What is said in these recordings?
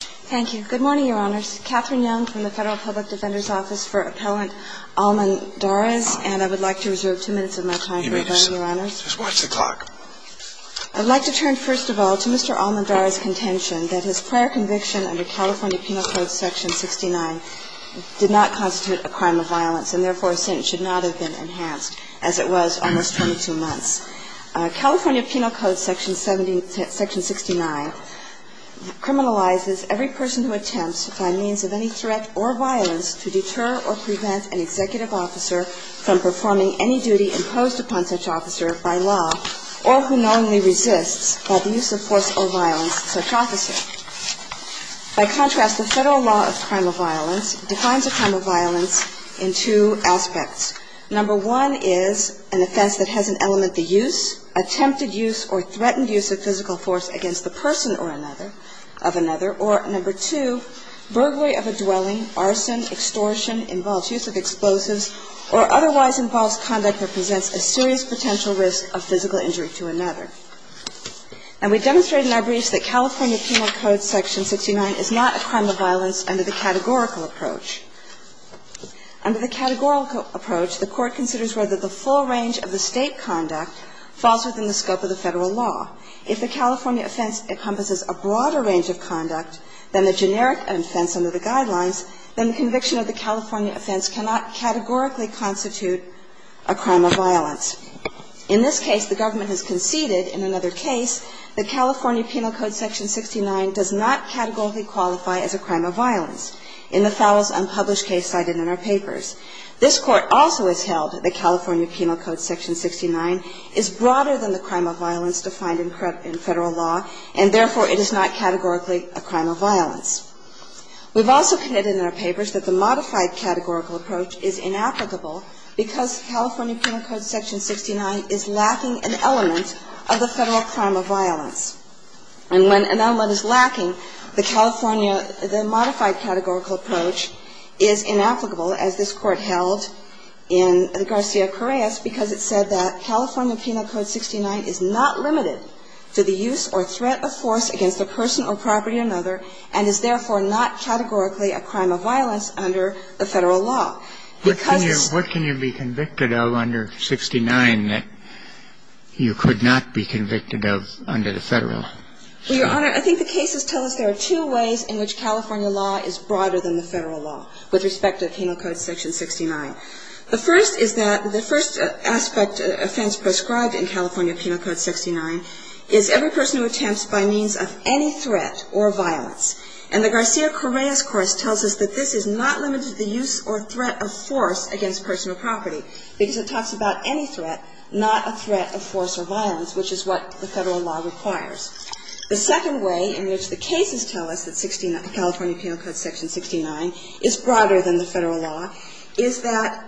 Thank you. Good morning, Your Honors. Catherine Young from the Federal Public Defender's Office for Appellant Almendarez, and I would like to reserve two minutes of my time for the hearing, Your Honors. Watch the clock. I'd like to turn first of all to Mr. Almendarez's contention that his prior conviction under California Penal Code Section 69 did not constitute a crime of violence, and therefore since should not have been enhanced, as it was almost 22 months. California Penal Code Section 69 criminalizes every person who attempts, by means of any threat or violence, to deter or prevent an executive officer from performing any duty imposed upon such officer by law, or who knowingly resists, by the use of force or violence, such officer. By contrast, the federal law of crime of violence defines a crime of violence in two aspects. Number one is an offense that has in element the use, attempted use, or threatened use of physical force against the person or another of another, or number two, burglary of a dwelling, arson, extortion, involved use of explosives, or otherwise involves conduct that presents a serious potential risk of physical injury to another. And we demonstrated in our briefs that California Penal Code Section 69 is not a crime of violence under the categorical approach. Under the categorical approach, the Court considers whether the full range of the State conduct falls within the scope of the Federal law. If the California offense encompasses a broader range of conduct than the generic offense under the Guidelines, then the conviction of the California offense cannot categorically constitute a crime of violence. In this case, the government has conceded, in another case, that California Penal Code Section 69 does not categorically qualify as a crime of violence. In the Fowles unpublished case cited in our papers, this Court also has held that California Penal Code Section 69 is broader than the crime of violence defined in Federal law, and therefore, it is not categorically a crime of violence. We've also committed in our papers that the modified categorical approach is inapplicable because the California Penal Code Section 69 is lacking an element of the Federal crime of violence. And when an element is lacking, the California, the modified categorical approach is inapplicable, as this Court held in the Garcia-Correas, because it said that California Penal Code 69 is not limited to the use or threat of force against a person or property or another, and is therefore not categorically a crime of violence under the Federal Because it's not. Penal Code Section 69 that you could not be convicted of under the Federal? Well, Your Honor, I think the cases tell us there are two ways in which California law is broader than the Federal law with respect to Penal Code Section 69. The first is that the first aspect offense prescribed in California Penal Code 69 is every person who attempts by means of any threat or violence. And the Garcia-Correas course tells us that this is not limited to the use or threat of force against a person or property, because it talks about any threat, not a threat of force or violence, which is what the Federal law requires. The second way in which the cases tell us that California Penal Code Section 69 is broader than the Federal law is that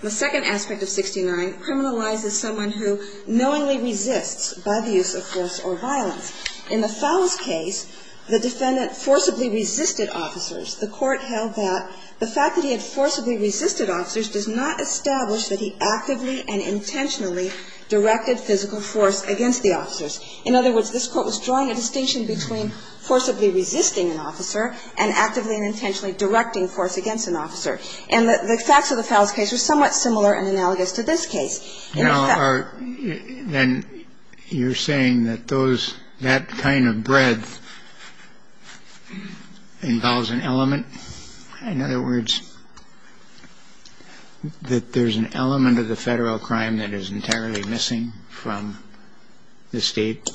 the second aspect of 69 criminalizes someone who knowingly resists by the use of force or violence. In the Fowles case, the defendant forcibly resisted officers. The Court held that the fact that he had forcibly resisted officers does not establish that he actively and intentionally directed physical force against the officers. In other words, this Court was drawing a distinction between forcibly resisting an officer and actively and intentionally directing force against an officer. And the facts of the Fowles case are somewhat similar and analogous to this case. And, Your Honor, you're saying that those – that kind of breadth involves an element? In other words, that there's an element of the Federal crime that is entirely missing from the State?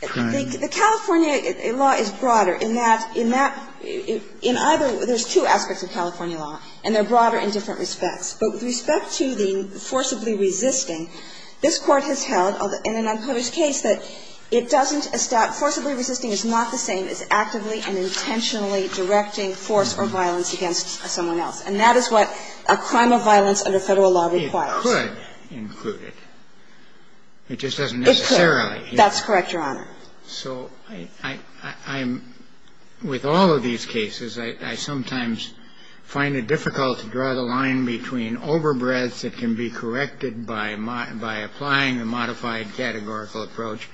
The California law is broader in that in that in either – there's two aspects of California law and they're broader in different respects, but with respect to the forcibly resisting, this Court has held in an unpublished case that it doesn't – forcibly resisting is not the same as actively and intentionally directing force or violence against someone else. And that is what a crime of violence under Federal law requires. It could include it. It just doesn't necessarily. It could. That's correct, Your Honor. So I'm – with all of these cases, I sometimes find it difficult to draw the line between overbreadths that can be corrected by applying a modified categorical approach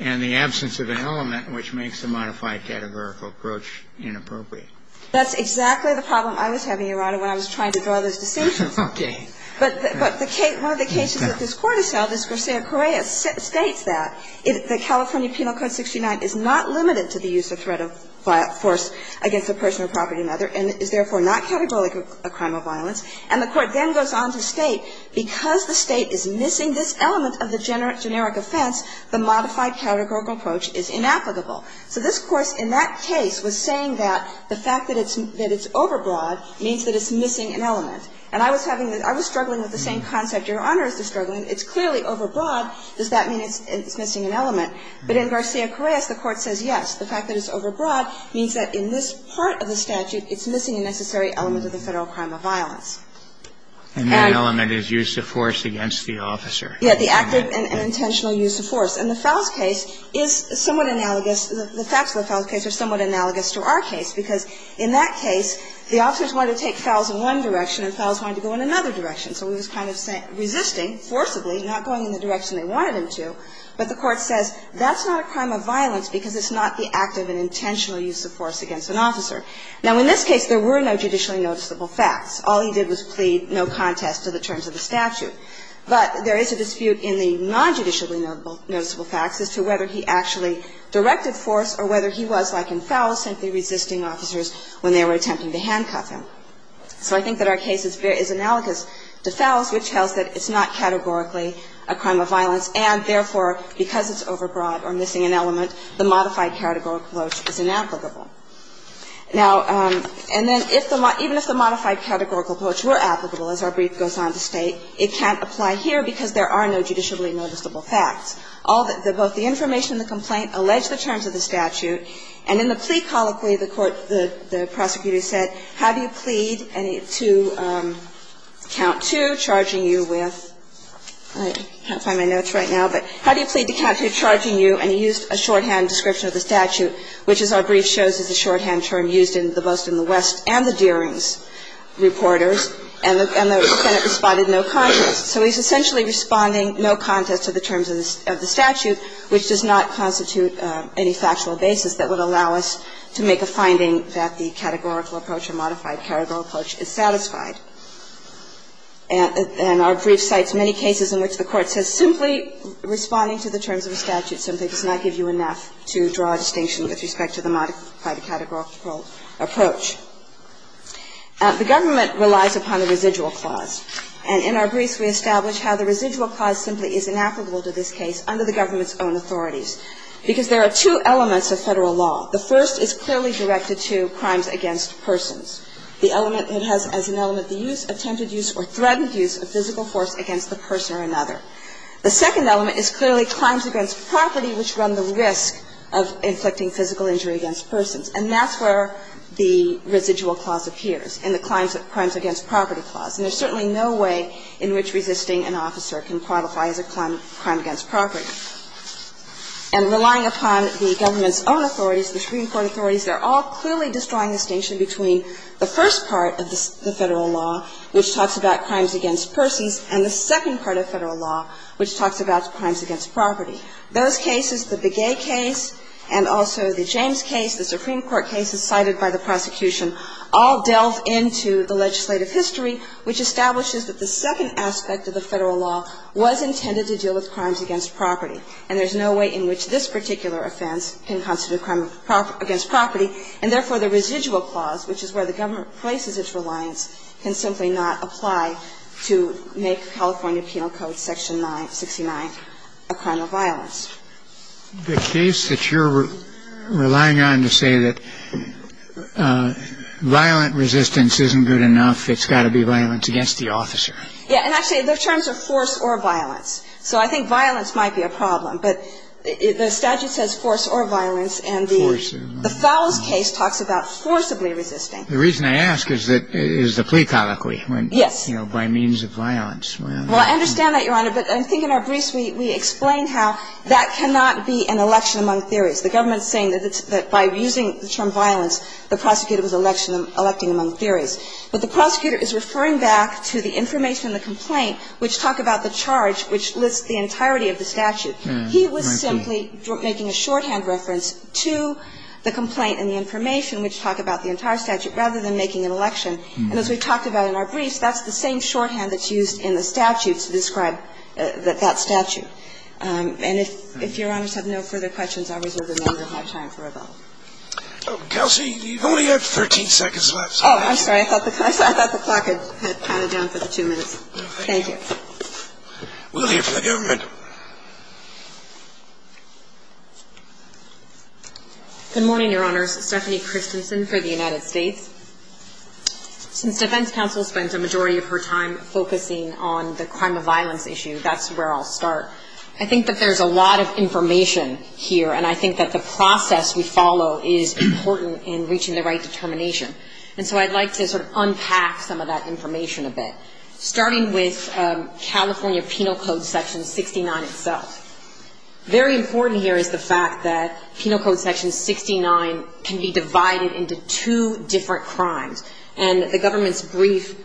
and the absence of an element which makes the modified categorical approach inappropriate. That's exactly the problem I was having, Your Honor, when I was trying to draw those decisions. Okay. But the – one of the cases that this Court has held is Garcia-Correa states that the California Penal Code 69 is not limited to the use of threat of force against a person or property or another and is therefore not categorical a crime of violence. And the Court then goes on to state because the State is missing this element of the generic offense, the modified categorical approach is inapplicable. So this Court in that case was saying that the fact that it's – that it's overbroad means that it's missing an element. And I was having – I was struggling with the same concept, Your Honor, as the Court was struggling. It's clearly overbroad. Does that mean it's missing an element? But in Garcia-Correa's, the Court says yes. The fact that it's overbroad means that in this part of the statute, it's missing a necessary element of the Federal crime of violence. And that element is use of force against the officer. Yeah, the active and intentional use of force. And the Fowles case is somewhat analogous – the facts of the Fowles case are somewhat analogous to our case, because in that case, the officers wanted to take Fowles in one direction and Fowles wanted to go in another direction. So he was kind of resisting forcibly, not going in the direction they wanted him to, but the Court says that's not a crime of violence because it's not the active and intentional use of force against an officer. Now, in this case, there were no judicially noticeable facts. All he did was plead no contest to the terms of the statute. But there is a dispute in the nonjudicially noticeable facts as to whether he actually directed force or whether he was, like in Fowles, simply resisting officers when they were attempting to handcuff him. So I think that our case is analogous to Fowles, which tells that it's not categorically a crime of violence, and therefore, because it's overbroad or missing an element, the modified categorical approach is inapplicable. Now, and then if the – even if the modified categorical approach were applicable, as our brief goes on to state, it can't apply here because there are no judicially noticeable facts. All the – both the information in the complaint allege the terms of the statute, and in the plea colloquy, the court – the prosecutor said, how do you plead to count two charging you with – I can't find my notes right now, but how do you plead to count two charging you, and he used a shorthand description of the statute, which, as our brief shows, is a shorthand term used in the Boston, the West, and the Deerings reporters, and the Senate responded no contest. So he's essentially responding no contest to the terms of the statute, which does not constitute any factual basis that would allow us to make a finding that the categorical approach or modified categorical approach is satisfied. And our brief cites many cases in which the Court says simply responding to the terms of a statute simply does not give you enough to draw a distinction with respect to the modified categorical approach. The government relies upon the residual clause. And in our brief, we establish how the residual clause simply is inapplicable to this case under the government's own authorities. Because there are two elements of Federal law. The first is clearly directed to crimes against persons. The element – it has as an element the use, attempted use, or threatened use of physical force against the person or another. The second element is clearly crimes against property which run the risk of inflicting physical injury against persons. And that's where the residual clause appears, in the crimes against property clause. And there's certainly no way in which resisting an officer can qualify as a crime against property. And relying upon the government's own authorities, the Supreme Court authorities, they're all clearly destroying the distinction between the first part of the Federal law, which talks about crimes against persons, and the second part of Federal law, which talks about crimes against property. Those cases, the Begay case and also the James case, the Supreme Court cases cited by the prosecution, all delve into the legislative history which establishes that the second aspect of the Federal law was intended to deal with crimes against property. And there's no way in which this particular offense can constitute a crime against property. And therefore, the residual clause, which is where the government places its reliance, can simply not apply to make California Penal Code section 969 a crime of violence. The case that you're relying on to say that violent resistance isn't good enough, it's got to be violence against the officer. Yeah. And actually, their terms are force or violence. So I think violence might be a problem. But the statute says force or violence, and the Fowles case talks about forcibly resisting. The reason I ask is that it is a plea colloquy. Yes. You know, by means of violence. Well, I understand that, Your Honor. But I think in our briefs we explain how that cannot be an election among theories. The government is saying that by using the term violence, the prosecutor was electing among theories. But the prosecutor is referring back to the information in the complaint which talk about the charge which lists the entirety of the statute. He was simply making a shorthand reference to the complaint and the information which talk about the entire statute rather than making an election. And as we've talked about in our briefs, that's the same shorthand that's used in the statute to describe that statute. And if Your Honors have no further questions, I'll reserve the remainder of my time for a vote. Oh, Kelsey, you've only got 13 seconds left. Oh, I'm sorry. I thought the clock had counted down for the two minutes. Thank you. We'll hear from the government. Good morning, Your Honors. Stephanie Christensen for the United States. Since defense counsel spends a majority of her time focusing on the crime of violence issue, that's where I'll start. I think that there's a lot of information here, and I think that the process we follow is important in reaching the right determination. And so I'd like to sort of unpack some of that information a bit, starting with California Penal Code Section 69 itself. Very important here is the fact that Penal Code Section 69 can be divided into two different crimes. And the government's brief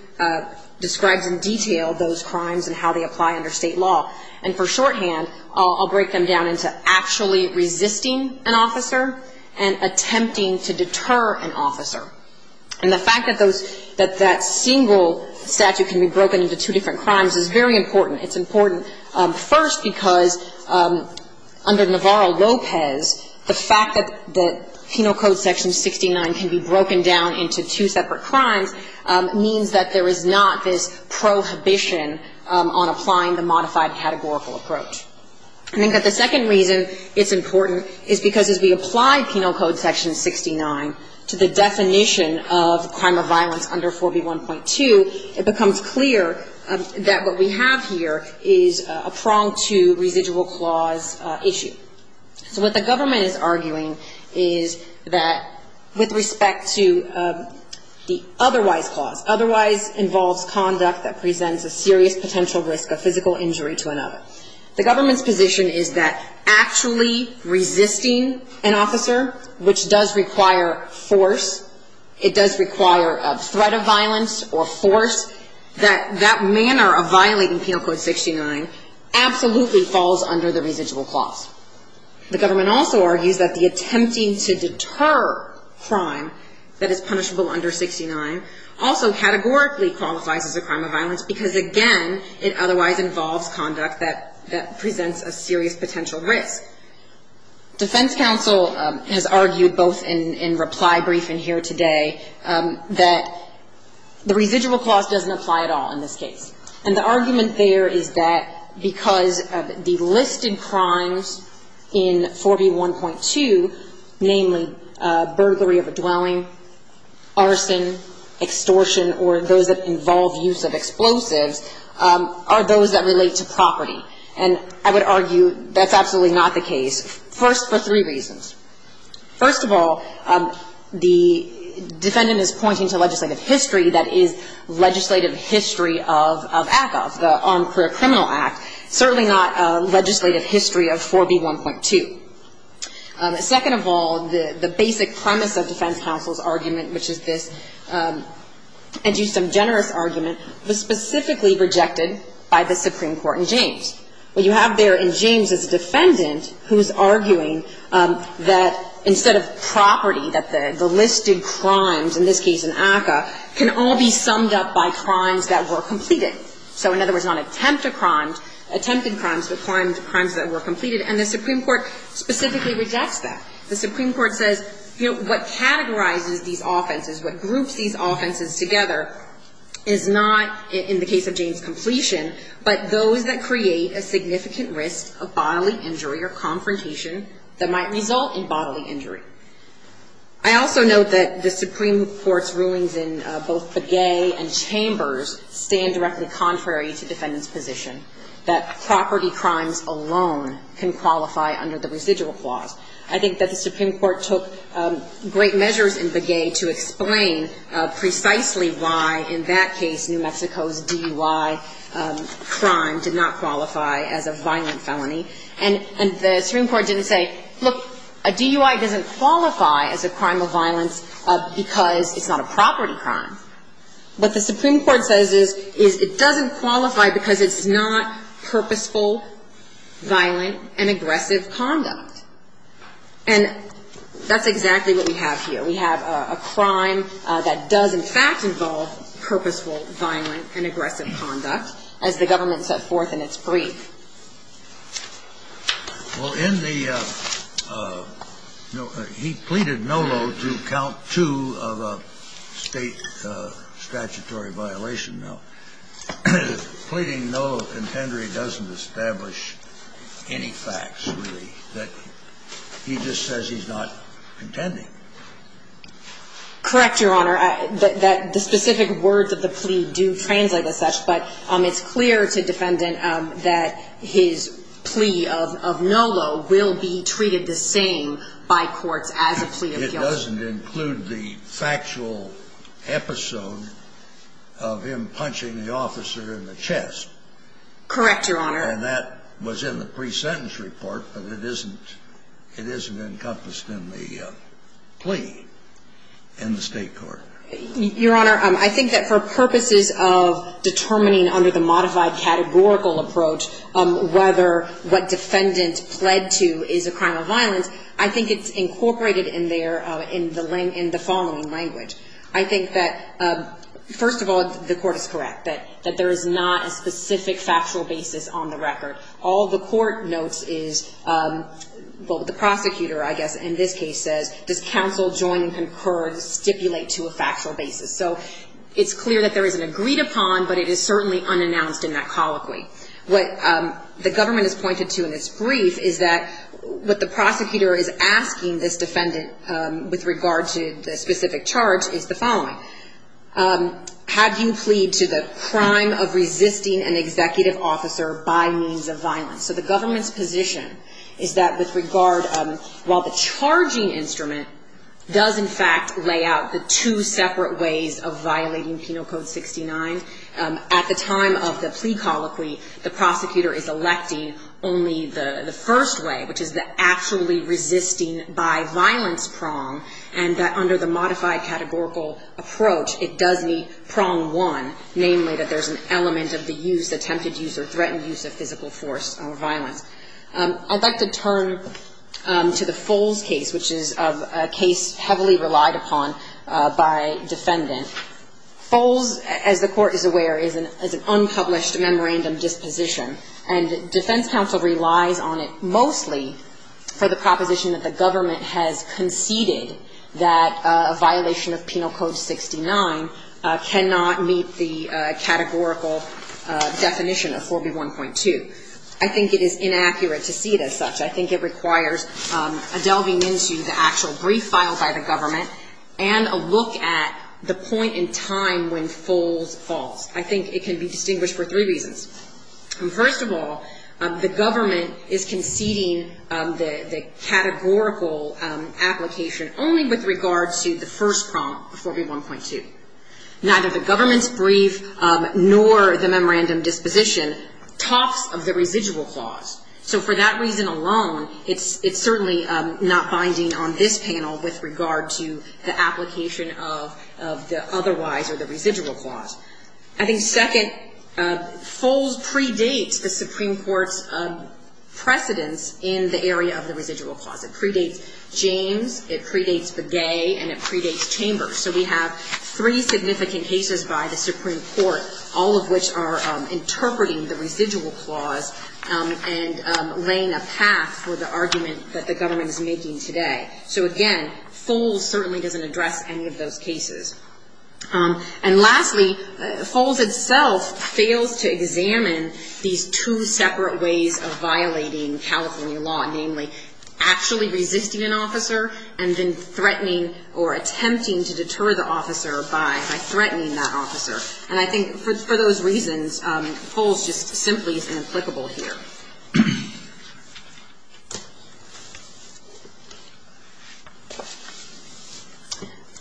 describes in detail those crimes and how they apply under state law. And for shorthand, I'll break them down into actually resisting an officer and attempting to deter an officer. And the fact that that single statute can be broken into two different crimes is very important. It's important, first, because under Navarro-Lopez, the fact that Penal Code Section 69 can be broken down into two separate crimes means that there is not this prohibition on applying the modified categorical approach. I think that the second reason it's important is because as we apply Penal Code Section 69 to the definition of crime of violence under 4B1.2, it becomes clear that what we have here is a prong to residual clause issue. So what the government is arguing is that with respect to the otherwise clause, otherwise involves conduct that presents a serious potential risk of physical injury to another. The government's position is that actually resisting an officer, which does require force, it does require a threat of violence or force, that that manner of violating Penal Code 69 absolutely falls under the residual clause. The government also argues that the attempting to deter crime that is punishable under 69 also categorically qualifies as a crime of violence because, again, it otherwise involves conduct that presents a serious potential risk. Defense counsel has argued both in reply briefing here today that the residual clause doesn't apply at all in this case. And the argument there is that because of the listed crimes in 4B1.2, namely burglary of a dwelling, arson, extortion, or those that involve use of explosives, are those that relate to property. And I would argue that's absolutely not the case, first for three reasons. First of all, the defendant is pointing to legislative history that is legislative history of ACCA, the Armed Career Criminal Act, certainly not a legislative history of 4B1.2. Second of all, the basic premise of defense counsel's argument, which is this educum generis argument, was specifically rejected by the Supreme Court in James. What you have there in James is a defendant who is arguing that instead of property, that the listed crimes, in this case in ACCA, can all be summed up by crimes that were completed. So, in other words, not attempted crimes, but crimes that were completed. And the Supreme Court specifically rejects that. The Supreme Court says, you know, what categorizes these offenses, what groups these offenses together is not, in the case of James, completion, but those that create a significant risk of bodily injury or confrontation that might result in bodily injury. I also note that the Supreme Court's rulings in both Begay and Chambers stand directly contrary to defendant's position, that property crimes alone can qualify under the residual clause. I think that the Supreme Court took great measures in Begay to explain precisely why, in that case, New Mexico's DUI crime did not qualify as a violent felony. And the Supreme Court didn't say, look, a DUI doesn't qualify as a crime of violence because it's not a property crime. What the Supreme Court says is it doesn't qualify because it's not purposeful, violent, and aggressive conduct. And that's exactly what we have here. We have a crime that does in fact involve purposeful, violent, and aggressive conduct, as the government set forth in its brief. Well, in the no – he pleaded NOLO to count two of a State statutory violation. Now, pleading NOLO contendory doesn't establish any facts, really, that he just says he's not contending. Correct, Your Honor. The specific words of the plea do translate as such, but it's clear to defendant that his plea of NOLO will be treated the same by courts as a plea of guilt. It doesn't include the factual episode of him punching the officer in the chest. Correct, Your Honor. And that was in the pre-sentence report, but it isn't encompassed in the plea in the State court. Your Honor, I think that for purposes of determining under the modified categorical approach whether what defendant pled to is a crime of violence, I think it's incorporated in there in the following language. I think that, first of all, the court is correct, that there is not a specific factual basis on the record. All the court notes is – well, the prosecutor, I guess, in this case says, does counsel join and concur to stipulate to a factual basis. So it's clear that there is an agreed upon, but it is certainly unannounced in that colloquy. What the government has pointed to in this brief is that what the prosecutor is asking this defendant with regard to the specific charge is the following. Had you plead to the crime of resisting an executive officer by means of violence? So the government's position is that with regard – while the charging instrument does, in fact, lay out the two separate ways of violating Penal Code 69, at the time of the plea colloquy, the prosecutor is electing only the first way, which is the actually resisting by violence prong, and that under the modified categorical approach, it does meet prong one, namely that there's an element of the use, or threatened use, of physical force or violence. I'd like to turn to the Foles case, which is a case heavily relied upon by defendant. Foles, as the Court is aware, is an unpublished memorandum disposition, and defense counsel relies on it mostly for the proposition that the government has conceded that a violation of Penal Code 69 cannot meet the categorical definition of force in 4B1.2. I think it is inaccurate to see it as such. I think it requires a delving into the actual brief filed by the government and a look at the point in time when Foles falls. I think it can be distinguished for three reasons. First of all, the government is conceding the categorical application only with regard to the first prong of 4B1.2. Neither the government's brief nor the memorandum disposition talks of the residual clause. So for that reason alone, it's certainly not binding on this panel with regard to the application of the otherwise or the residual clause. I think second, Foles predates the Supreme Court's precedence in the area of the residual clause. It predates James, it predates Begay, and it predates the Supreme Court's precedence in interpreting the residual clause and laying a path for the argument that the government is making today. So again, Foles certainly doesn't address any of those cases. And lastly, Foles itself fails to examine these two separate ways of violating California law, namely actually resisting an officer by threatening that officer. And I think for those reasons, Foles just simply is inapplicable here.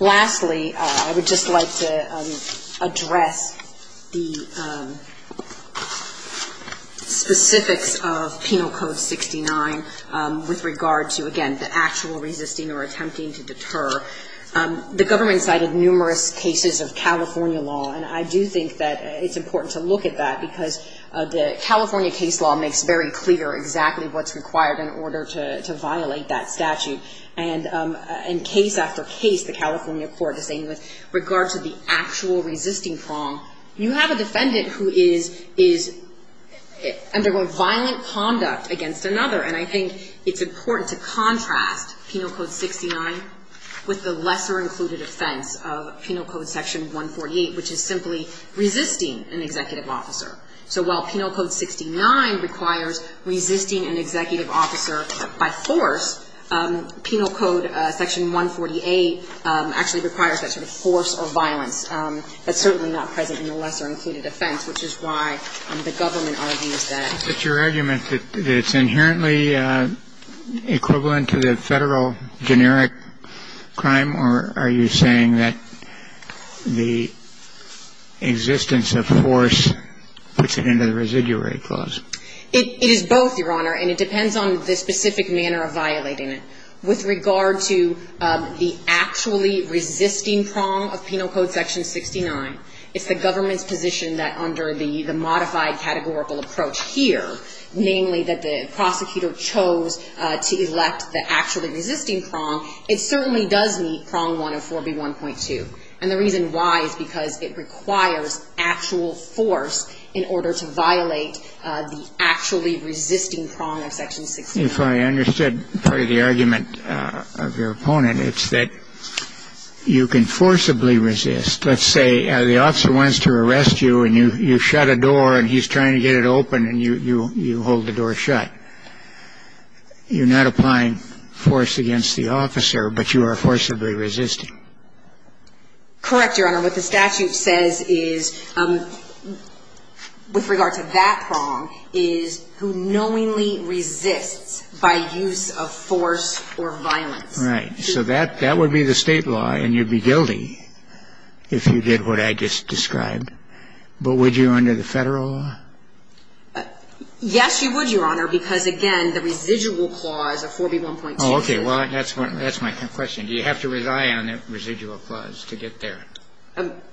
Lastly, I would just like to address the specifics of Penal Code 69 with regard to, again, the actual resisting or attempting to deter. The government cited numerous cases of California law, and I do think that it's important to look at that because the California case law makes very clear exactly what's required in order to violate that statute. And in case after case, the California court is saying with regard to the actual resisting prong, you have a defendant who is undergoing violent conduct against another. And I think it's important to contrast Penal Code 69 with the lesser included offense of Penal Code Section 148, which is simply resisting an executive officer. So while Penal Code 69 requires resisting an executive officer, it does not require any kind of violence. That's certainly not present in the lesser included offense, which is why the government argues that. But your argument that it's inherently equivalent to the Federal generic crime, or are you saying that the existence of force puts it into the residuary clause? It is both, Your Honor, and it depends on the specific manner of violating it. With regard to the actually resisting prong of Penal Code Section 69, it's the government's position that under the modified categorical approach here, namely that the prosecutor chose to elect the actually resisting prong, it certainly does meet prong 104B1.2. And the reason why is because it requires actual force in order to violate the actually resisting prong of Section 69. If I understood part of the argument of your opponent, it's that you can forcibly resist. Let's say the officer wants to arrest you and you shut a door and he's trying to get it open and you hold the door shut. You're not applying force against the officer, but you are forcibly resisting. Correct, Your Honor. What the statute says is, with regard to that prong, is who knowingly resists by use of force or violence. Right. So that would be the State law and you'd be guilty if you did what I just Yes, you would, Your Honor, because, again, the residual clause of 4B1.2. Okay. Well, that's my question. Do you have to rely on the residual clause to get there?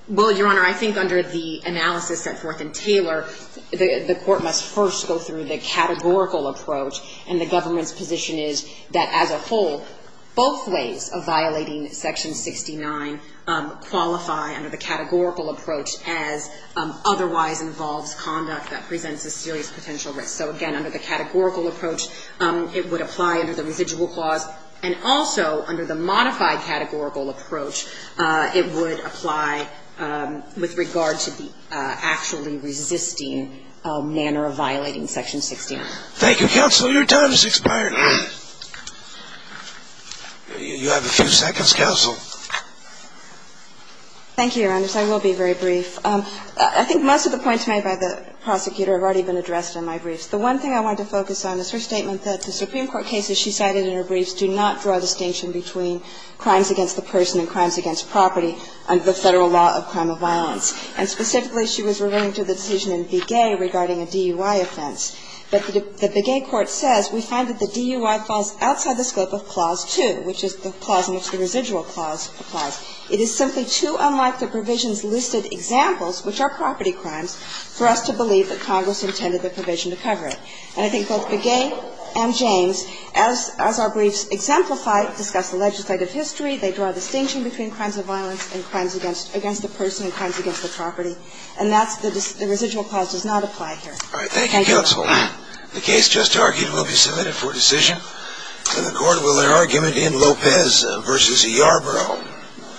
Well, Your Honor, I think under the analysis set forth in Taylor, the Court must first go through the categorical approach, and the government's position is that as a whole, both ways of violating Section 69 qualify under the categorical approach as otherwise involves conduct that presents a serious potential risk. So, again, under the categorical approach, it would apply under the residual clause, and also under the modified categorical approach, it would apply with regard to the actually resisting manner of violating Section 69. Thank you, counsel. Your time has expired. You have a few seconds, counsel. Thank you, Your Honors. I will be very brief. I think most of the points made by the prosecutor have already been addressed in my briefs. The one thing I wanted to focus on is her statement that the Supreme Court cases she cited in her briefs do not draw a distinction between crimes against the person and crimes against property under the Federal law of crime of violence. And specifically, she was referring to the decision in Begay regarding a DUI offense. But the Begay court says we find that the DUI falls outside the scope of Clause 2, which is the clause in which the residual clause applies. It is simply too unlike the provisions listed examples, which are property crimes, for us to believe that Congress intended the provision to cover it. And I think both Begay and James, as our briefs exemplify, discuss the legislative history. They draw a distinction between crimes of violence and crimes against the person and crimes against the property. And that's the residual clause does not apply here. Thank you. All right. Thank you, counsel. The case just argued will be submitted for decision. And the court will argue it in Lopez v. Yarbrough.